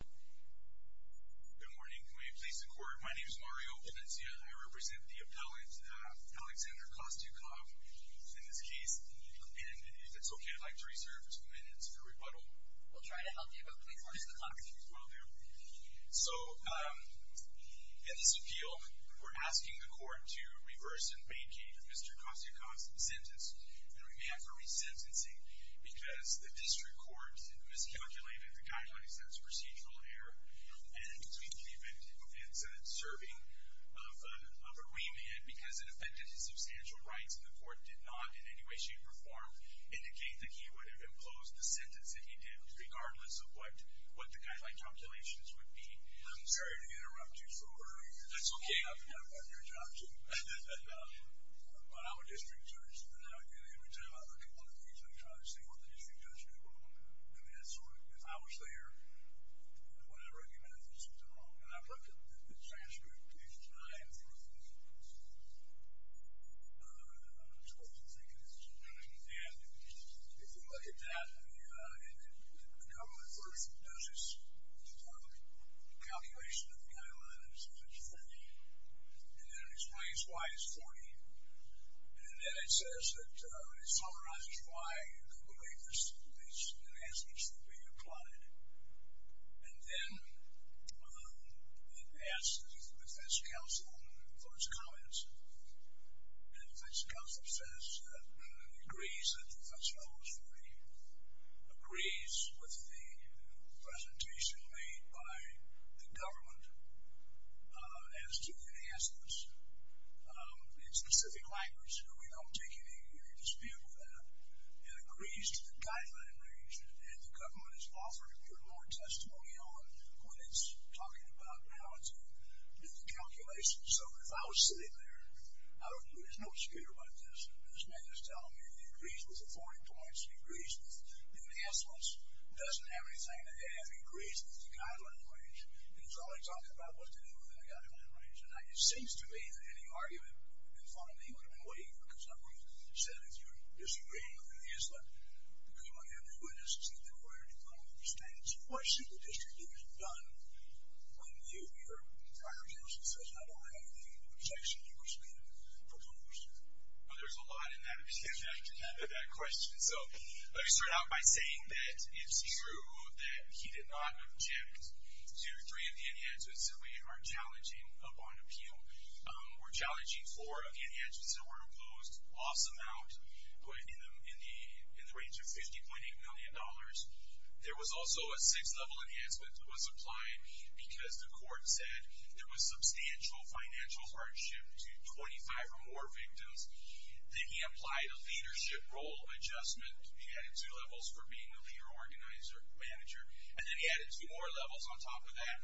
Good morning. Can we please record? My name is Mario Valencia. I represent the appellant, Alexander Kostyukov, in this case. And if it's okay, I'd like to reserve two minutes for rebuttal. We'll try to help you, but please watch the clock. Will do. So, in this appeal, we're asking the court to reverse and vacate Mr. Kostyukov's sentence, and we may have to re-sentencing because the district court miscalculated the guidelines. That's procedural error, and we believe it's serving of a remand because it offended his substantial rights, and the court did not in any way, shape, or form indicate that he would have imposed the sentence that he did, regardless of what the guideline calculations would be. I'm sorry to interrupt you, sir. That's okay. I've done your job, too, but I'm a district judge, and every time I look at one of these, I try to see what the district judge did wrong. I mean, it's sort of, if I was there, would I recommend that this was done wrong? And I've looked at the transcript each time through, and I'm supposed to take a decision, and if you look at that, the government version does this calculation of the guideline, and it says it's 40, and then it explains why it's 40, and then it says that it summarizes why you could believe these enhancements should be applied, and then it asks the defense counsel for its comments, and the defense counsel says, agrees that the defense counsel is 40, agrees with the presentation made by the dispute with that, and agrees to the guideline range, and the government is offering more testimony on when it's talking about how to do the calculations. So, if I was sitting there, there's no dispute about this. This man is telling me he agrees with the 40 points, he agrees with the enhancements, doesn't have anything to add, agrees with the guideline range, and is only talking about what to do with that guideline range. It seems to me that any argument in front of me would have been wavered, because I would have said, if you're disagreeing with any of these, look, you might have new witnesses, and they're aware in front of me of these things. What should the district attorney have done when you, your representative, says, I don't have anything to object to, in respect of what's on the list here? Well, there's a lot in that question. So, let me start out by saying that it's true that he did not object to three of the enhancements, that we are challenging upon appeal. We're challenging for, again, enhancements that were imposed, loss amount in the range of $50.8 million. There was also a sixth level enhancement that was applied, because the court said there was substantial financial hardship to 25 or more victims. Then he applied a leadership role adjustment. He added two levels for being the leader, organizer, manager. And then he added two more levels on top of that,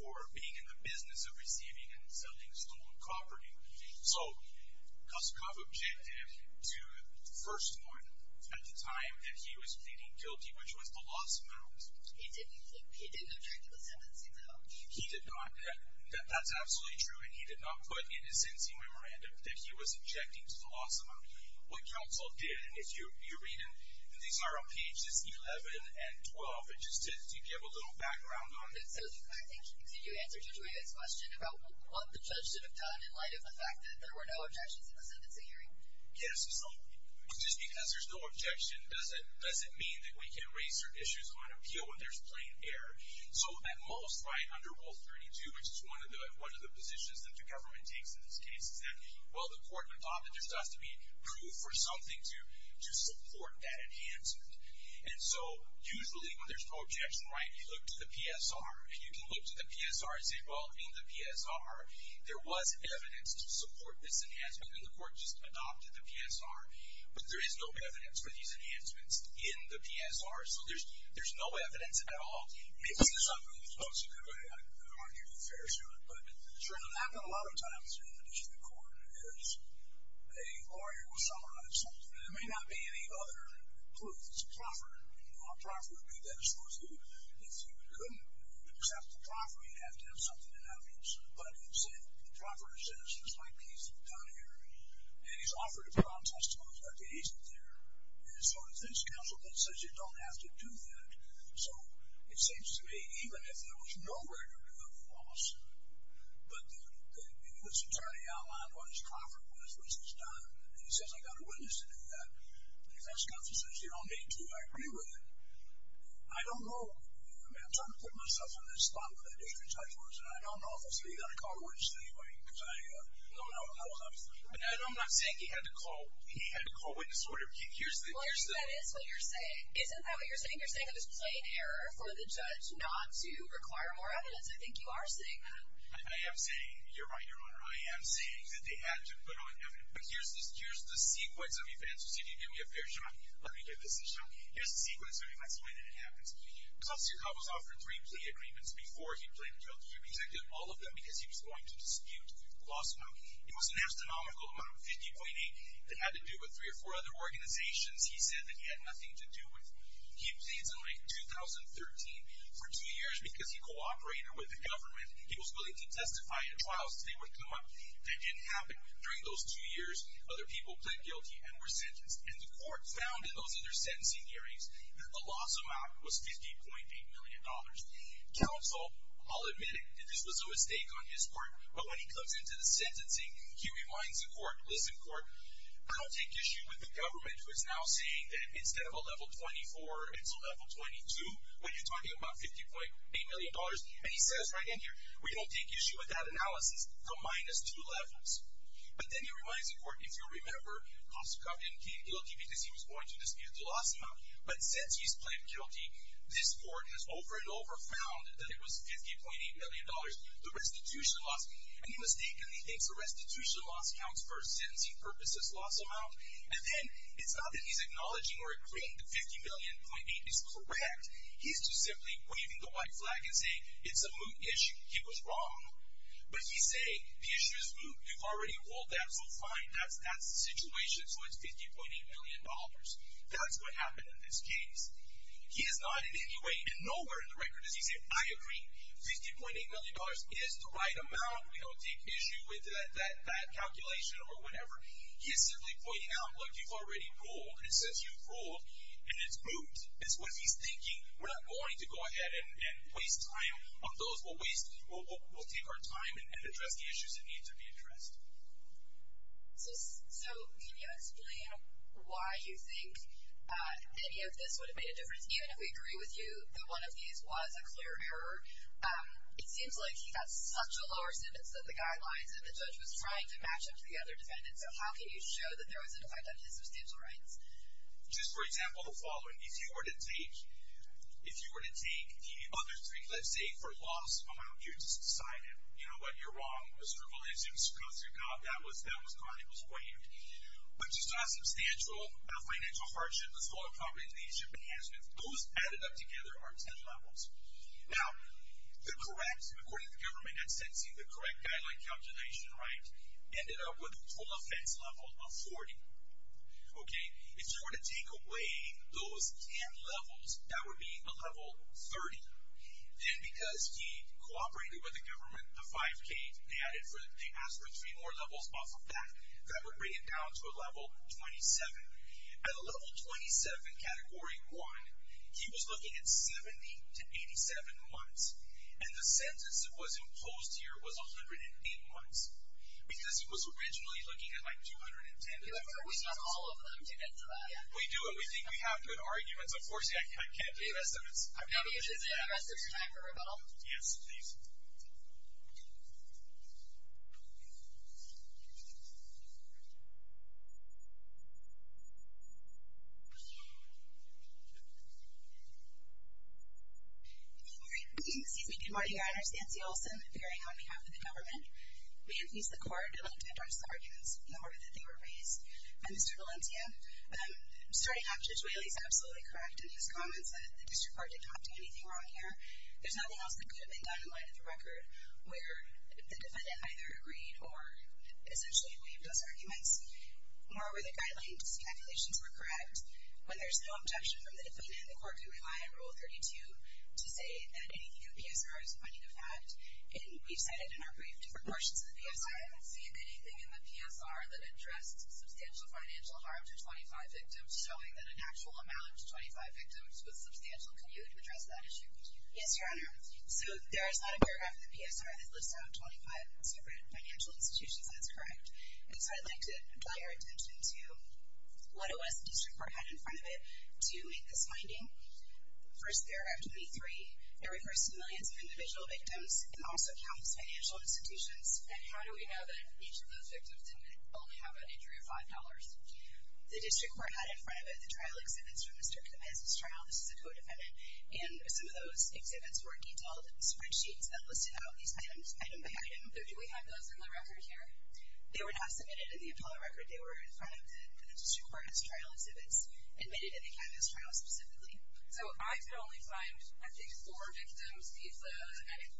for being in the business of receiving and selling stolen property. So, Kuskoff objected to the first one, at the time that he was pleading guilty, which was the loss amount. He didn't object to the seventh signal? He did not. That's absolutely true, and he did not put in his NC memorandum that he was objecting to the loss amount. What counsel did, and if you're reading, these are on pages 11 and 12, just to give a little background on it. So, did you answer Julia's question about what the judge should have done in light of the fact that there were no objections in the sentencing hearing? Yes, absolutely. Just because there's no objection doesn't mean that we can't raise certain issues on appeal when there's plain error. So, at most, right, under Rule 32, which is one of the positions that the government takes in this case, is that, well, the court adopted this. There has to be proof or something to support that enhancement. And so, usually, when there's no objection, right, you look to the PSR, and you can look to the PSR and say, well, in the PSR, there was evidence to support this enhancement, and the court just adopted the PSR. But there is no evidence for these enhancements in the PSR. So, there's no evidence at all. Maybe this is something that's supposed to go away. I'd argue it's fair to do it. But, certainly, that happens a lot of times in the district court, is a lawyer will summarize something. And it may not be any other proof. It's a proffer. And a proffer would be that it's supposed to be. If you couldn't accept the proffer, you'd have to have something in evidence. But it's a proffered sentence, just like the easement down here. And he's offered to put on testimony about the easement there. And so, his counsel says, you don't have to do that. So, it seems to me, even if there was no record of loss, but this attorney outlined what his proffer was, what he's done, and he says, I got a witness to do that. And if that's what he says, you don't need to. I agree with it. I don't know. I mean, I'm trying to put myself in this spot where that district judge was, and I don't know if I'm still going to call a witness anyway because I don't know. I'm not saying he had to call witness order. Well, I think that is what you're saying. Isn't that what you're saying? You're saying it was plain error for the judge not to require more evidence. I think you are saying that. I am saying, you're right, Your Honor. I am saying that they had to put on evidence. But here's the sequence of events. Did you give me a fair shot? Let me give this a shot. Here's the sequence of events, the way that it happens. Klaus Yerkau was offered three plea agreements before he pleaded guilty. He rejected all of them because he was going to dispute the loss amount. It was an astronomical amount of $50.8 million. It had to do with three or four other organizations he said that he had nothing to do with. He pleads in late 2013. For two years, because he cooperated with the government, he was willing to testify in trials. They would come up. That didn't happen. During those two years, other people pled guilty and were sentenced. And the court found in those other sentencing hearings that the loss amount was $50.8 million. Counsel, I'll admit it, that this was a mistake on his part. But when he comes into the sentencing, he reminds the court, listen, court, I don't take issue with the government who is now saying that instead of a level 24, it's a level 22 when you're talking about $50.8 million. And he says right in here, we don't take issue with that analysis. The minus two levels. But then he reminds the court, if you'll remember, Klaus Yerkau didn't plead guilty because he was going to dispute the loss amount. But since he's pled guilty, this court has over and over found that it was $50.8 million. The restitution loss. And he mistakenly thinks the restitution loss counts for a sentencing purposes loss amount. And then it's not that he's acknowledging or agreeing that $50.8 million is correct. He's just simply waving the white flag and saying it's a moot issue. He was wrong. But he's saying the issue is moot. You've already ruled that. So fine. That's the situation. So it's $50.8 million. That's what happened in this case. He has not in any way and nowhere in the record has he said, I agree. $50.8 million is the right amount. We don't take issue with that calculation or whatever. He is simply pointing out, look, you've already ruled. And it says you've ruled. And it's moot is what he's thinking. We're not going to go ahead and waste time on those. We'll take our time and address the issues that need to be addressed. Even if we agree with you that one of these was a clear error, it seems like he got such a lower sentence than the guidelines and the judge was trying to match up to the other defendants. So how can you show that there was an effect on his substantial rights? Just for example, the following. If you were to take the other three, let's say, for loss amount, you would just sign it. You know what, you're wrong. Mr. Fuller, Mr. Coats, you're caught. That was caught. It was waived. But just a substantial financial hardship, those added up together are ten levels. Now, the correct, according to the government, I'm sensing the correct guideline calculation, right, ended up with a full offense level of 40. Okay. If you were to take away those ten levels, that would be a level 30. Then because he cooperated with the government, the 5K, they asked for three more levels off of that. That would bring it down to a level 27. At a level 27, Category 1, he was looking at 70 to 87 months, and the sentence that was imposed here was 108 months, because he was originally looking at, like, 210 months. We need all of them to get to that. We do. We think we have good arguments. Unfortunately, I can't give estimates. Maybe you should take the rest of your time for rebuttal. Yes, please. Thank you. Excuse me. Good morning. My name is Nancy Olson, appearing on behalf of the government. We have used the court in order to address the arguments, in order that they were raised by Mr. Valencia. Starting off, Judge Whaley is absolutely correct in his comments that the district court didn't have to do anything wrong here. There's nothing else that could have been done in light of the record where the defendant either agreed or essentially waived those arguments. Moreover, the guidelines and speculations were correct. When there's no objection from the defendant, the court can rely on Rule 32 to say that anything in the PSR is a finding of fact. And we've said it in our brief different portions of the PSR. I don't see anything in the PSR that addresses substantial financial harm to 25 victims, showing that an actual amount to 25 victims was substantial. Can you address that issue? Yes, Your Honor. So there is not a paragraph in the PSR that lists out 25 separate financial institutions. That's correct. And so I'd like to draw your attention to what it was the district court had in front of it to make this finding. First there, F23, it refers to millions of individual victims and also counts financial institutions. And how do we know that each of those victims didn't only have an injury of $5? The district court had in front of it the trial exhibits from Mr. Capese's trial. This is a co-defendant. And some of those exhibits were detailed spreadsheets that listed out these items item by item. But do we have those in the record here? They were not submitted in the Apollo record. They were in front of the district court's trial exhibits, admitted in the Capese trial specifically. So I could only find, I think, four victims' visas.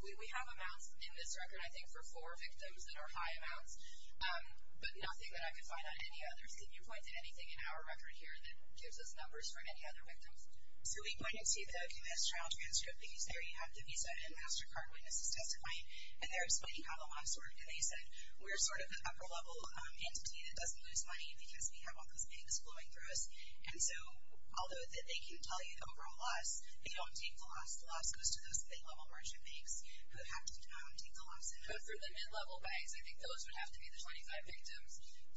We have amounts in this record, I think, for four victims that are high amounts, but nothing that I could find on any others. Can you point to anything in our record here that gives us numbers for any other victims? So we pointed to the Capese trial transcript, because there you have the visa and MasterCard witnesses testifying, and they're explaining how the laws work. And they said, we're sort of the upper-level entity that doesn't lose money because we have all those banks flowing through us. And so although they can tell you the overall loss, they don't take the loss. The loss goes to those state-level merchant banks who have to take the loss. But for the mid-level banks, I think those would have to be the 25 victims.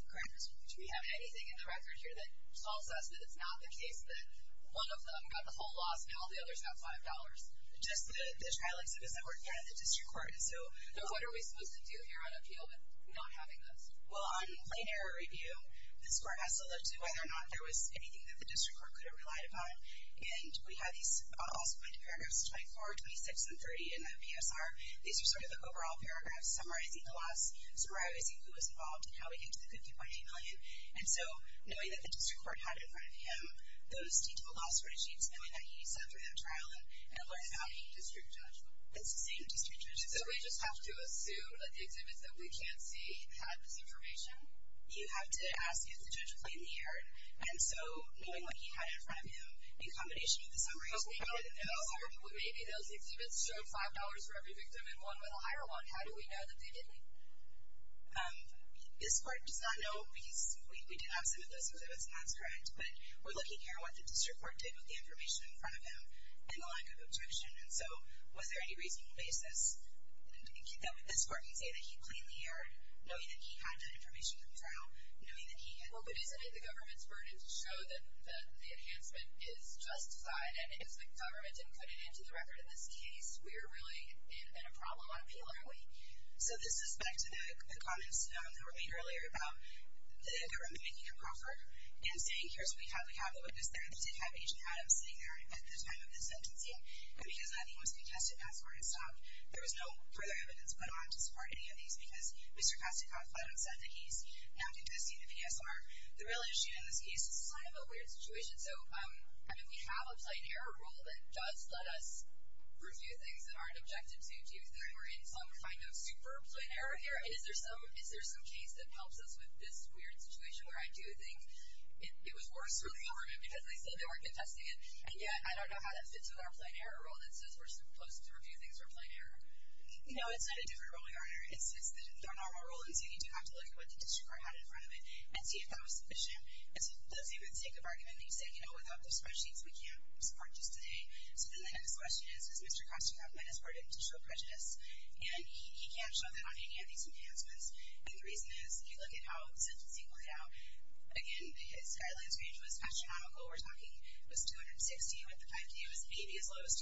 Correct. Do we have anything in the record here that tells us that it's not the case that one of them got the whole loss and all the others got $5? Just the trial exhibits that were at the district court. So what are we supposed to do here on appeal with not having this? Well, on plain error review, this court has to look to whether or not there was anything that the district court could have relied upon. And we have these also pointed to paragraphs 24, 26, and 30 in the PSR. These are sort of the overall paragraphs summarizing the loss, summarizing who was involved and how we get to the good $3.8 million. And so knowing that the district court had in front of him those detailed loss and learn about the district judge. It's the same district judge. So we just have to assume that the exhibits that we can't see had this information? You have to ask, is the judge plainly erred? And so knowing what he had in front of him in combination with the summaries, maybe those exhibits showed $5 for every victim and one with a higher one. How do we know that they didn't? This court does not know because we did have some of those exhibits, and that's correct. But we're looking here at what the district court did with the information in front of him and the lack of objection. And so was there any reasonable basis that this court can say that he plainly erred, knowing that he had that information in the trial, knowing that he had? Well, but isn't it the government's burden to show that the enhancement is justified? And if the government didn't put it into the record in this case, we're really in a problem on appeal, aren't we? So this is back to the comments that were made earlier about the government making a proffer and saying, here's what we have. We have the witness there. They did have Agent Adams sitting there at the time of this sentencing. But because nothing was contested, that's where it stopped. There was no further evidence put on to support any of these because Mr. Kostikoff let him set the case, not contesting the PSR. The real issue in this case is this is kind of a weird situation. So, I mean, we have a plain error rule that does let us review things that aren't objective to do. We're in some kind of super plain error here. And is there some case that helps us with this weird situation where I do think it was worse for the government because they said they weren't contesting it, and yet I don't know how that fits with our plain error rule that says we're supposed to review things for plain error. You know, it's not a different ruling, Arne. It's just that in our normal rulings, you need to have to look at what the district court had in front of it and see if that was sufficient. It doesn't even take up argument that you said, you know, without those spreadsheets, we can't support just today. So then the next question is, does Mr. Kostikoff let his burden to show prejudice? And he can't show that on any of these enhancements. And the reason is, if you look at how the sentencing played out, again, his guidelines range was astronomical. We're talking it was 260 with the 5K. It was 80 as low as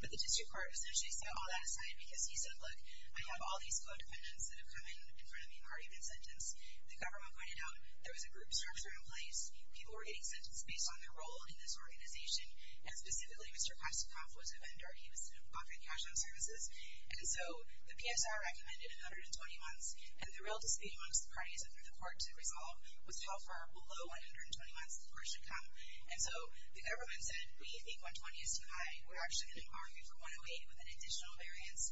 210. But the district court essentially set all that aside because he said, look, I have all these co-dependents that have come in front of me and argued in sentence. The government pointed out there was a group structure in place. People were getting sentenced based on their role in this organization. And specifically, Mr. Kostikoff was a vendor. He was in a bucket of cash on services. And so the PSR recommended 120 months. And the real dispute amongst the parties under the court to resolve was how far below 120 months the court should come. And so the government said, we think 120 is too high. We're actually going to argue for 108 with an additional variance.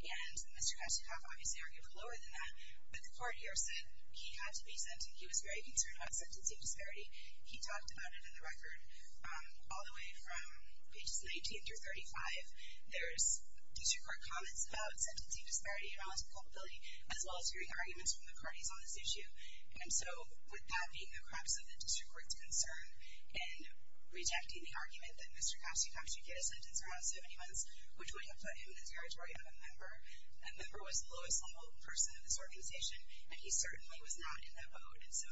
And Mr. Kostikoff obviously argued lower than that. But the court here said he had to be sentenced. He was very concerned about sentencing disparity. He talked about it in the record. All the way from pages 19 through 35, there's district court comments about sentencing disparity and all this culpability, as well as hearing arguments from the parties on this issue. And so with that being the crux of the district court's concern and rejecting the argument that Mr. Kostikoff should get a sentence around 70 months, which would have put him in the territory of a member. That member was the lowest level person in this organization. And he certainly was not in that boat. And so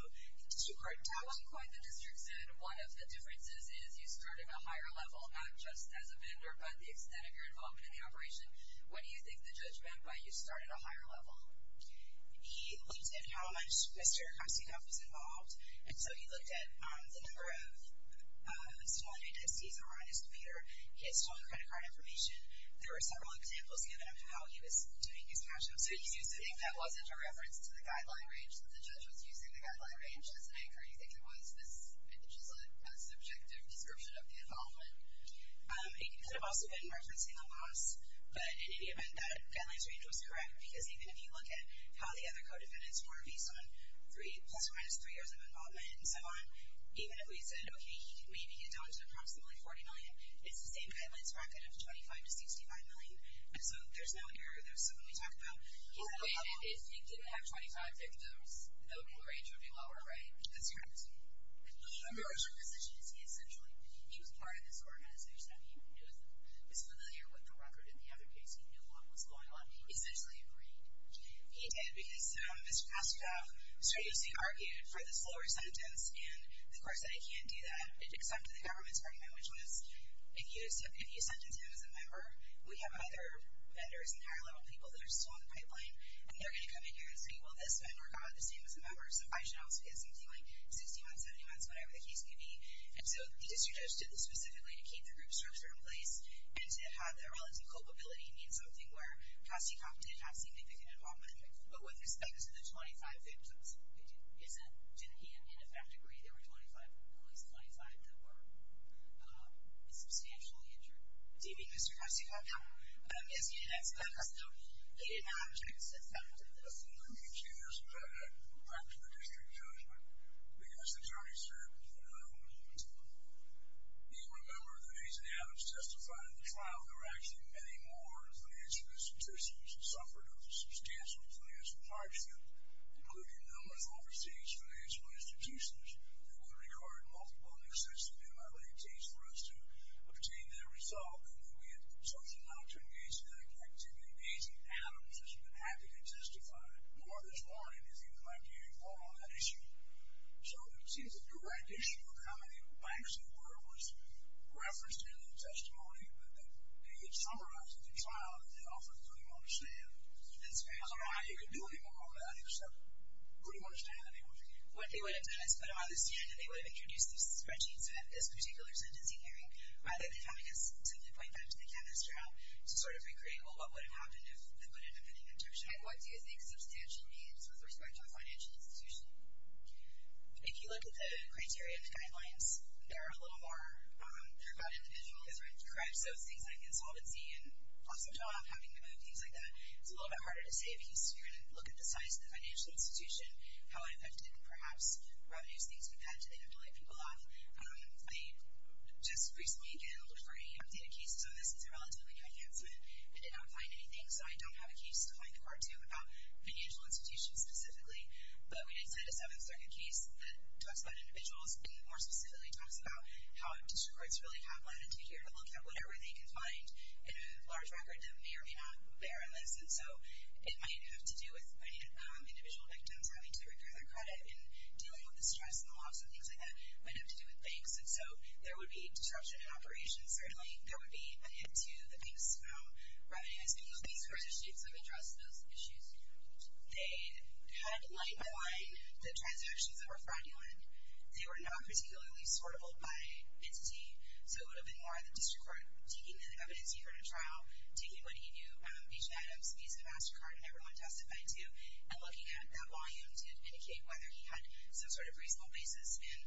two-part judgment. That wasn't quite the district's judgment. One of the differences is you start at a higher level, not just as a vendor, but the extent of your involvement in the operation. What do you think the judge meant by you start at a higher level? He looked at how much Mr. Kostikoff was involved. And so he looked at the number of stolen identities that were on his computer, his stolen credit card information. There were several examples given of how he was doing his cash-in. So he seems to think that wasn't a reference to the guideline range that the judge was using, the guideline range as an anchor. You think it was just a subjective description of the involvement? It could have also been referencing a loss. But in any event, that guidelines range was correct. Because even if you look at how the other co-defendants were based on plus or minus three years of involvement and so on, even if we said, okay, maybe he had done to approximately $40 million, it's the same guidelines bracket of $25 to $65 million. So there's no error. If he didn't have 25 victims, the overall range would be lower, right? That's correct. His position is he essentially was part of this organization. He was familiar with the record in the other case. He knew what was going on. He essentially agreed. He did, because Mr. Kostikoff strangely argued for this lower sentence. And the court said, I can't do that, except for the government's argument, which was if you sentence him as a member, we have other vendors and higher-level people that are still on the pipeline, and they're going to come in here and say, well, this vendor got the same as a member, so I should also get something like 60 months, 70 months, whatever the case may be. And so the district judge did this specifically to keep the group structure in place and to have the relative culpability in something where Kostikoff did not see significant involvement. But with respect to the 25 victims, didn't he in effect agree there were 25, at least 25, that were substantially injured? Do you think Mr. Kostikoff did? Yes, he did. He did not object to this. Let me just add back to the district judge. The U.S. Attorney said that he will remember that he's an avid testifier in the trial. There were actually many more financial institutions that suffered a substantial financial hardship, including numerous overseas financial institutions that would have required multiple and excessive MLA teams for us to obtain their result. And then we had the consultant not to engage in that activity. Amazing animals, as you've been happy to testify, more this morning, as you've been glad to hear more on that issue. So it seems a direct issue of how many banks there were was referenced in the testimony, but that they had summarized at the trial that they often couldn't even understand. That's right. I don't know how you could do any more on that, except couldn't understand any of it. What they would have done is put them on the stand and they would have introduced the spreadsheets in this particular sentencing hearing, rather than having us simply point back to the canvass trial to sort of recreate, well, what would have happened if they put in a pending objection? What do you think substantial means with respect to a financial institution? If you look at the criteria and the guidelines, they're a little more, they're about individualism. Correct. So things like insolvency and awesome job, having to move, things like that, it's a little bit harder to say if you're going to look at the size of the financial institution, how it affected, perhaps, revenues, things like that. Do they have to lay people off? They just recently, again, looked for any updated cases on this. It's a relatively new enhancement. They did not find anything, so I don't have a case to point the court to about financial institutions specifically. But we did set a Seventh Circuit case that talks about individuals, and more specifically talks about how district courts really have latitude here to look at whatever they can find in a large record that may or may not bear on this. And so it might have to do with individual victims having to repair their credit and dealing with the stress and the loss and things like that might have to do with banks. And so there would be disruption in operations, certainly. There would be a hit to the banks' own revenues because these jurisdictions have addressed those issues. They had light on the transactions that were fraudulent. They were not particularly sortable by entity. So it would have been more the district court taking the evidence you heard at trial, taking what he knew, each of the items, each of the master card and everyone testified to, and looking at that volume to indicate whether he had some sort of reasonable basis. And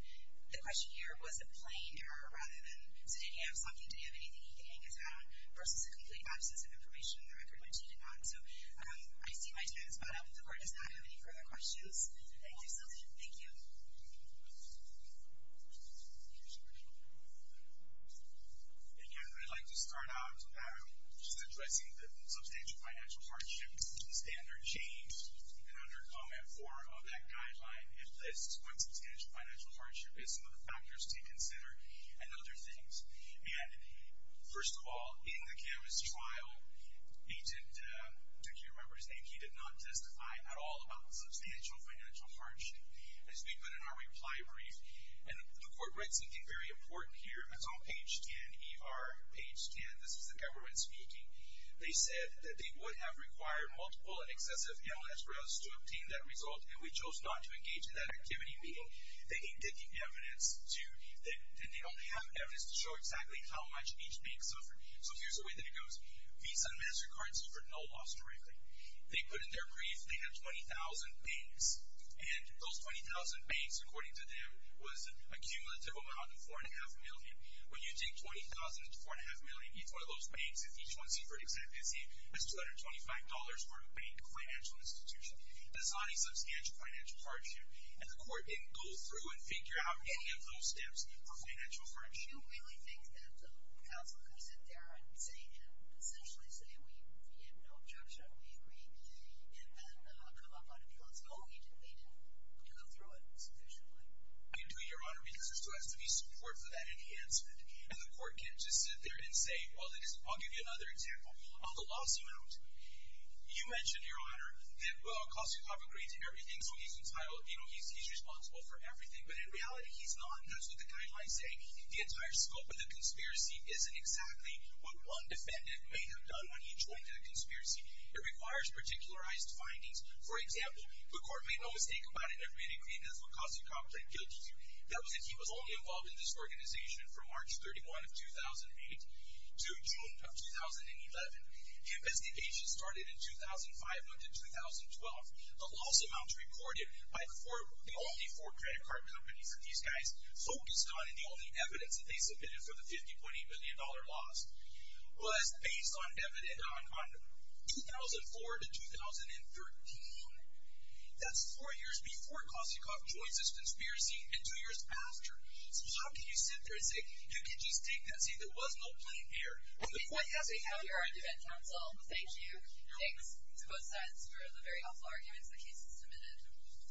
the question here, was it plain error rather than, did he have something? Did he have anything he could hang his hat on versus a complete absence of information in the record which he did not? So I see my time is about up. The court does not have any further questions. Thank you so much. Thank you. And yeah, I'd like to start off just addressing the substantial financial hardships standard change. And under comment four of that guideline, it lists what substantial financial hardship is some of the factors to consider and other things. And first of all, in the cameras trial, he did, do you remember his name? He did not testify at all about the substantial financial hardship. As we put in our reply brief, and the court writes something very important here. It's on page 10, ER page 10. This is the government speaking. They said that they would have required multiple and excessive amounts for us to obtain that result and we chose not to engage in that activity, meaning they didn't get the evidence to, and they don't have evidence to show exactly how much each bank suffered. So here's the way that it goes. Visa and MasterCard suffered no loss directly. They put in their brief, they had 20,000 banks. And those 20,000 banks, according to them, was a cumulative amount of four and a half million. When you take 20,000 to four and a half million, you throw those banks at each one's secret executive, it's $225 for a bank financial institution. That's not a substantial financial hardship. And the court didn't go through and figure out any of those steps for financial hardship. Do you really think that the counsel could sit there and say, and essentially say, we have no objection, we agree, and then come up on it and say, oh, we didn't need to go through it sufficiently? We do, Your Honor, because there still has to be support for that enhancement. And the court can't just sit there and say, well, I'll give you another example. On the loss amount, you mentioned, Your Honor, that Lacoste Cop agreed to everything, so he's entitled, you know, he's responsible for everything. But in reality, he's not, and that's what the guidelines say. The entire scope of the conspiracy isn't exactly what one defendant may have done when he joined the conspiracy. It requires particularized findings. For example, the court made no mistake about it. Everybody agreed that Lacoste Cop played guilty to. That was if he was only involved in this organization from March 31 of 2008 to June of 2011. The investigation started in 2005 up to 2012. The loss amounts recorded by the only four credit card companies that these guys focused on and the only evidence that they submitted for the $50.8 million loss was based on 2004 to 2013. That's four years before Lacoste Cop joins this conspiracy and two years after. So how can you sit there and say, who can just take that saying there was no playing here? The point has to be how you are a defense counsel. Thank you. Thanks to both sides for the very helpful arguments the case has submitted.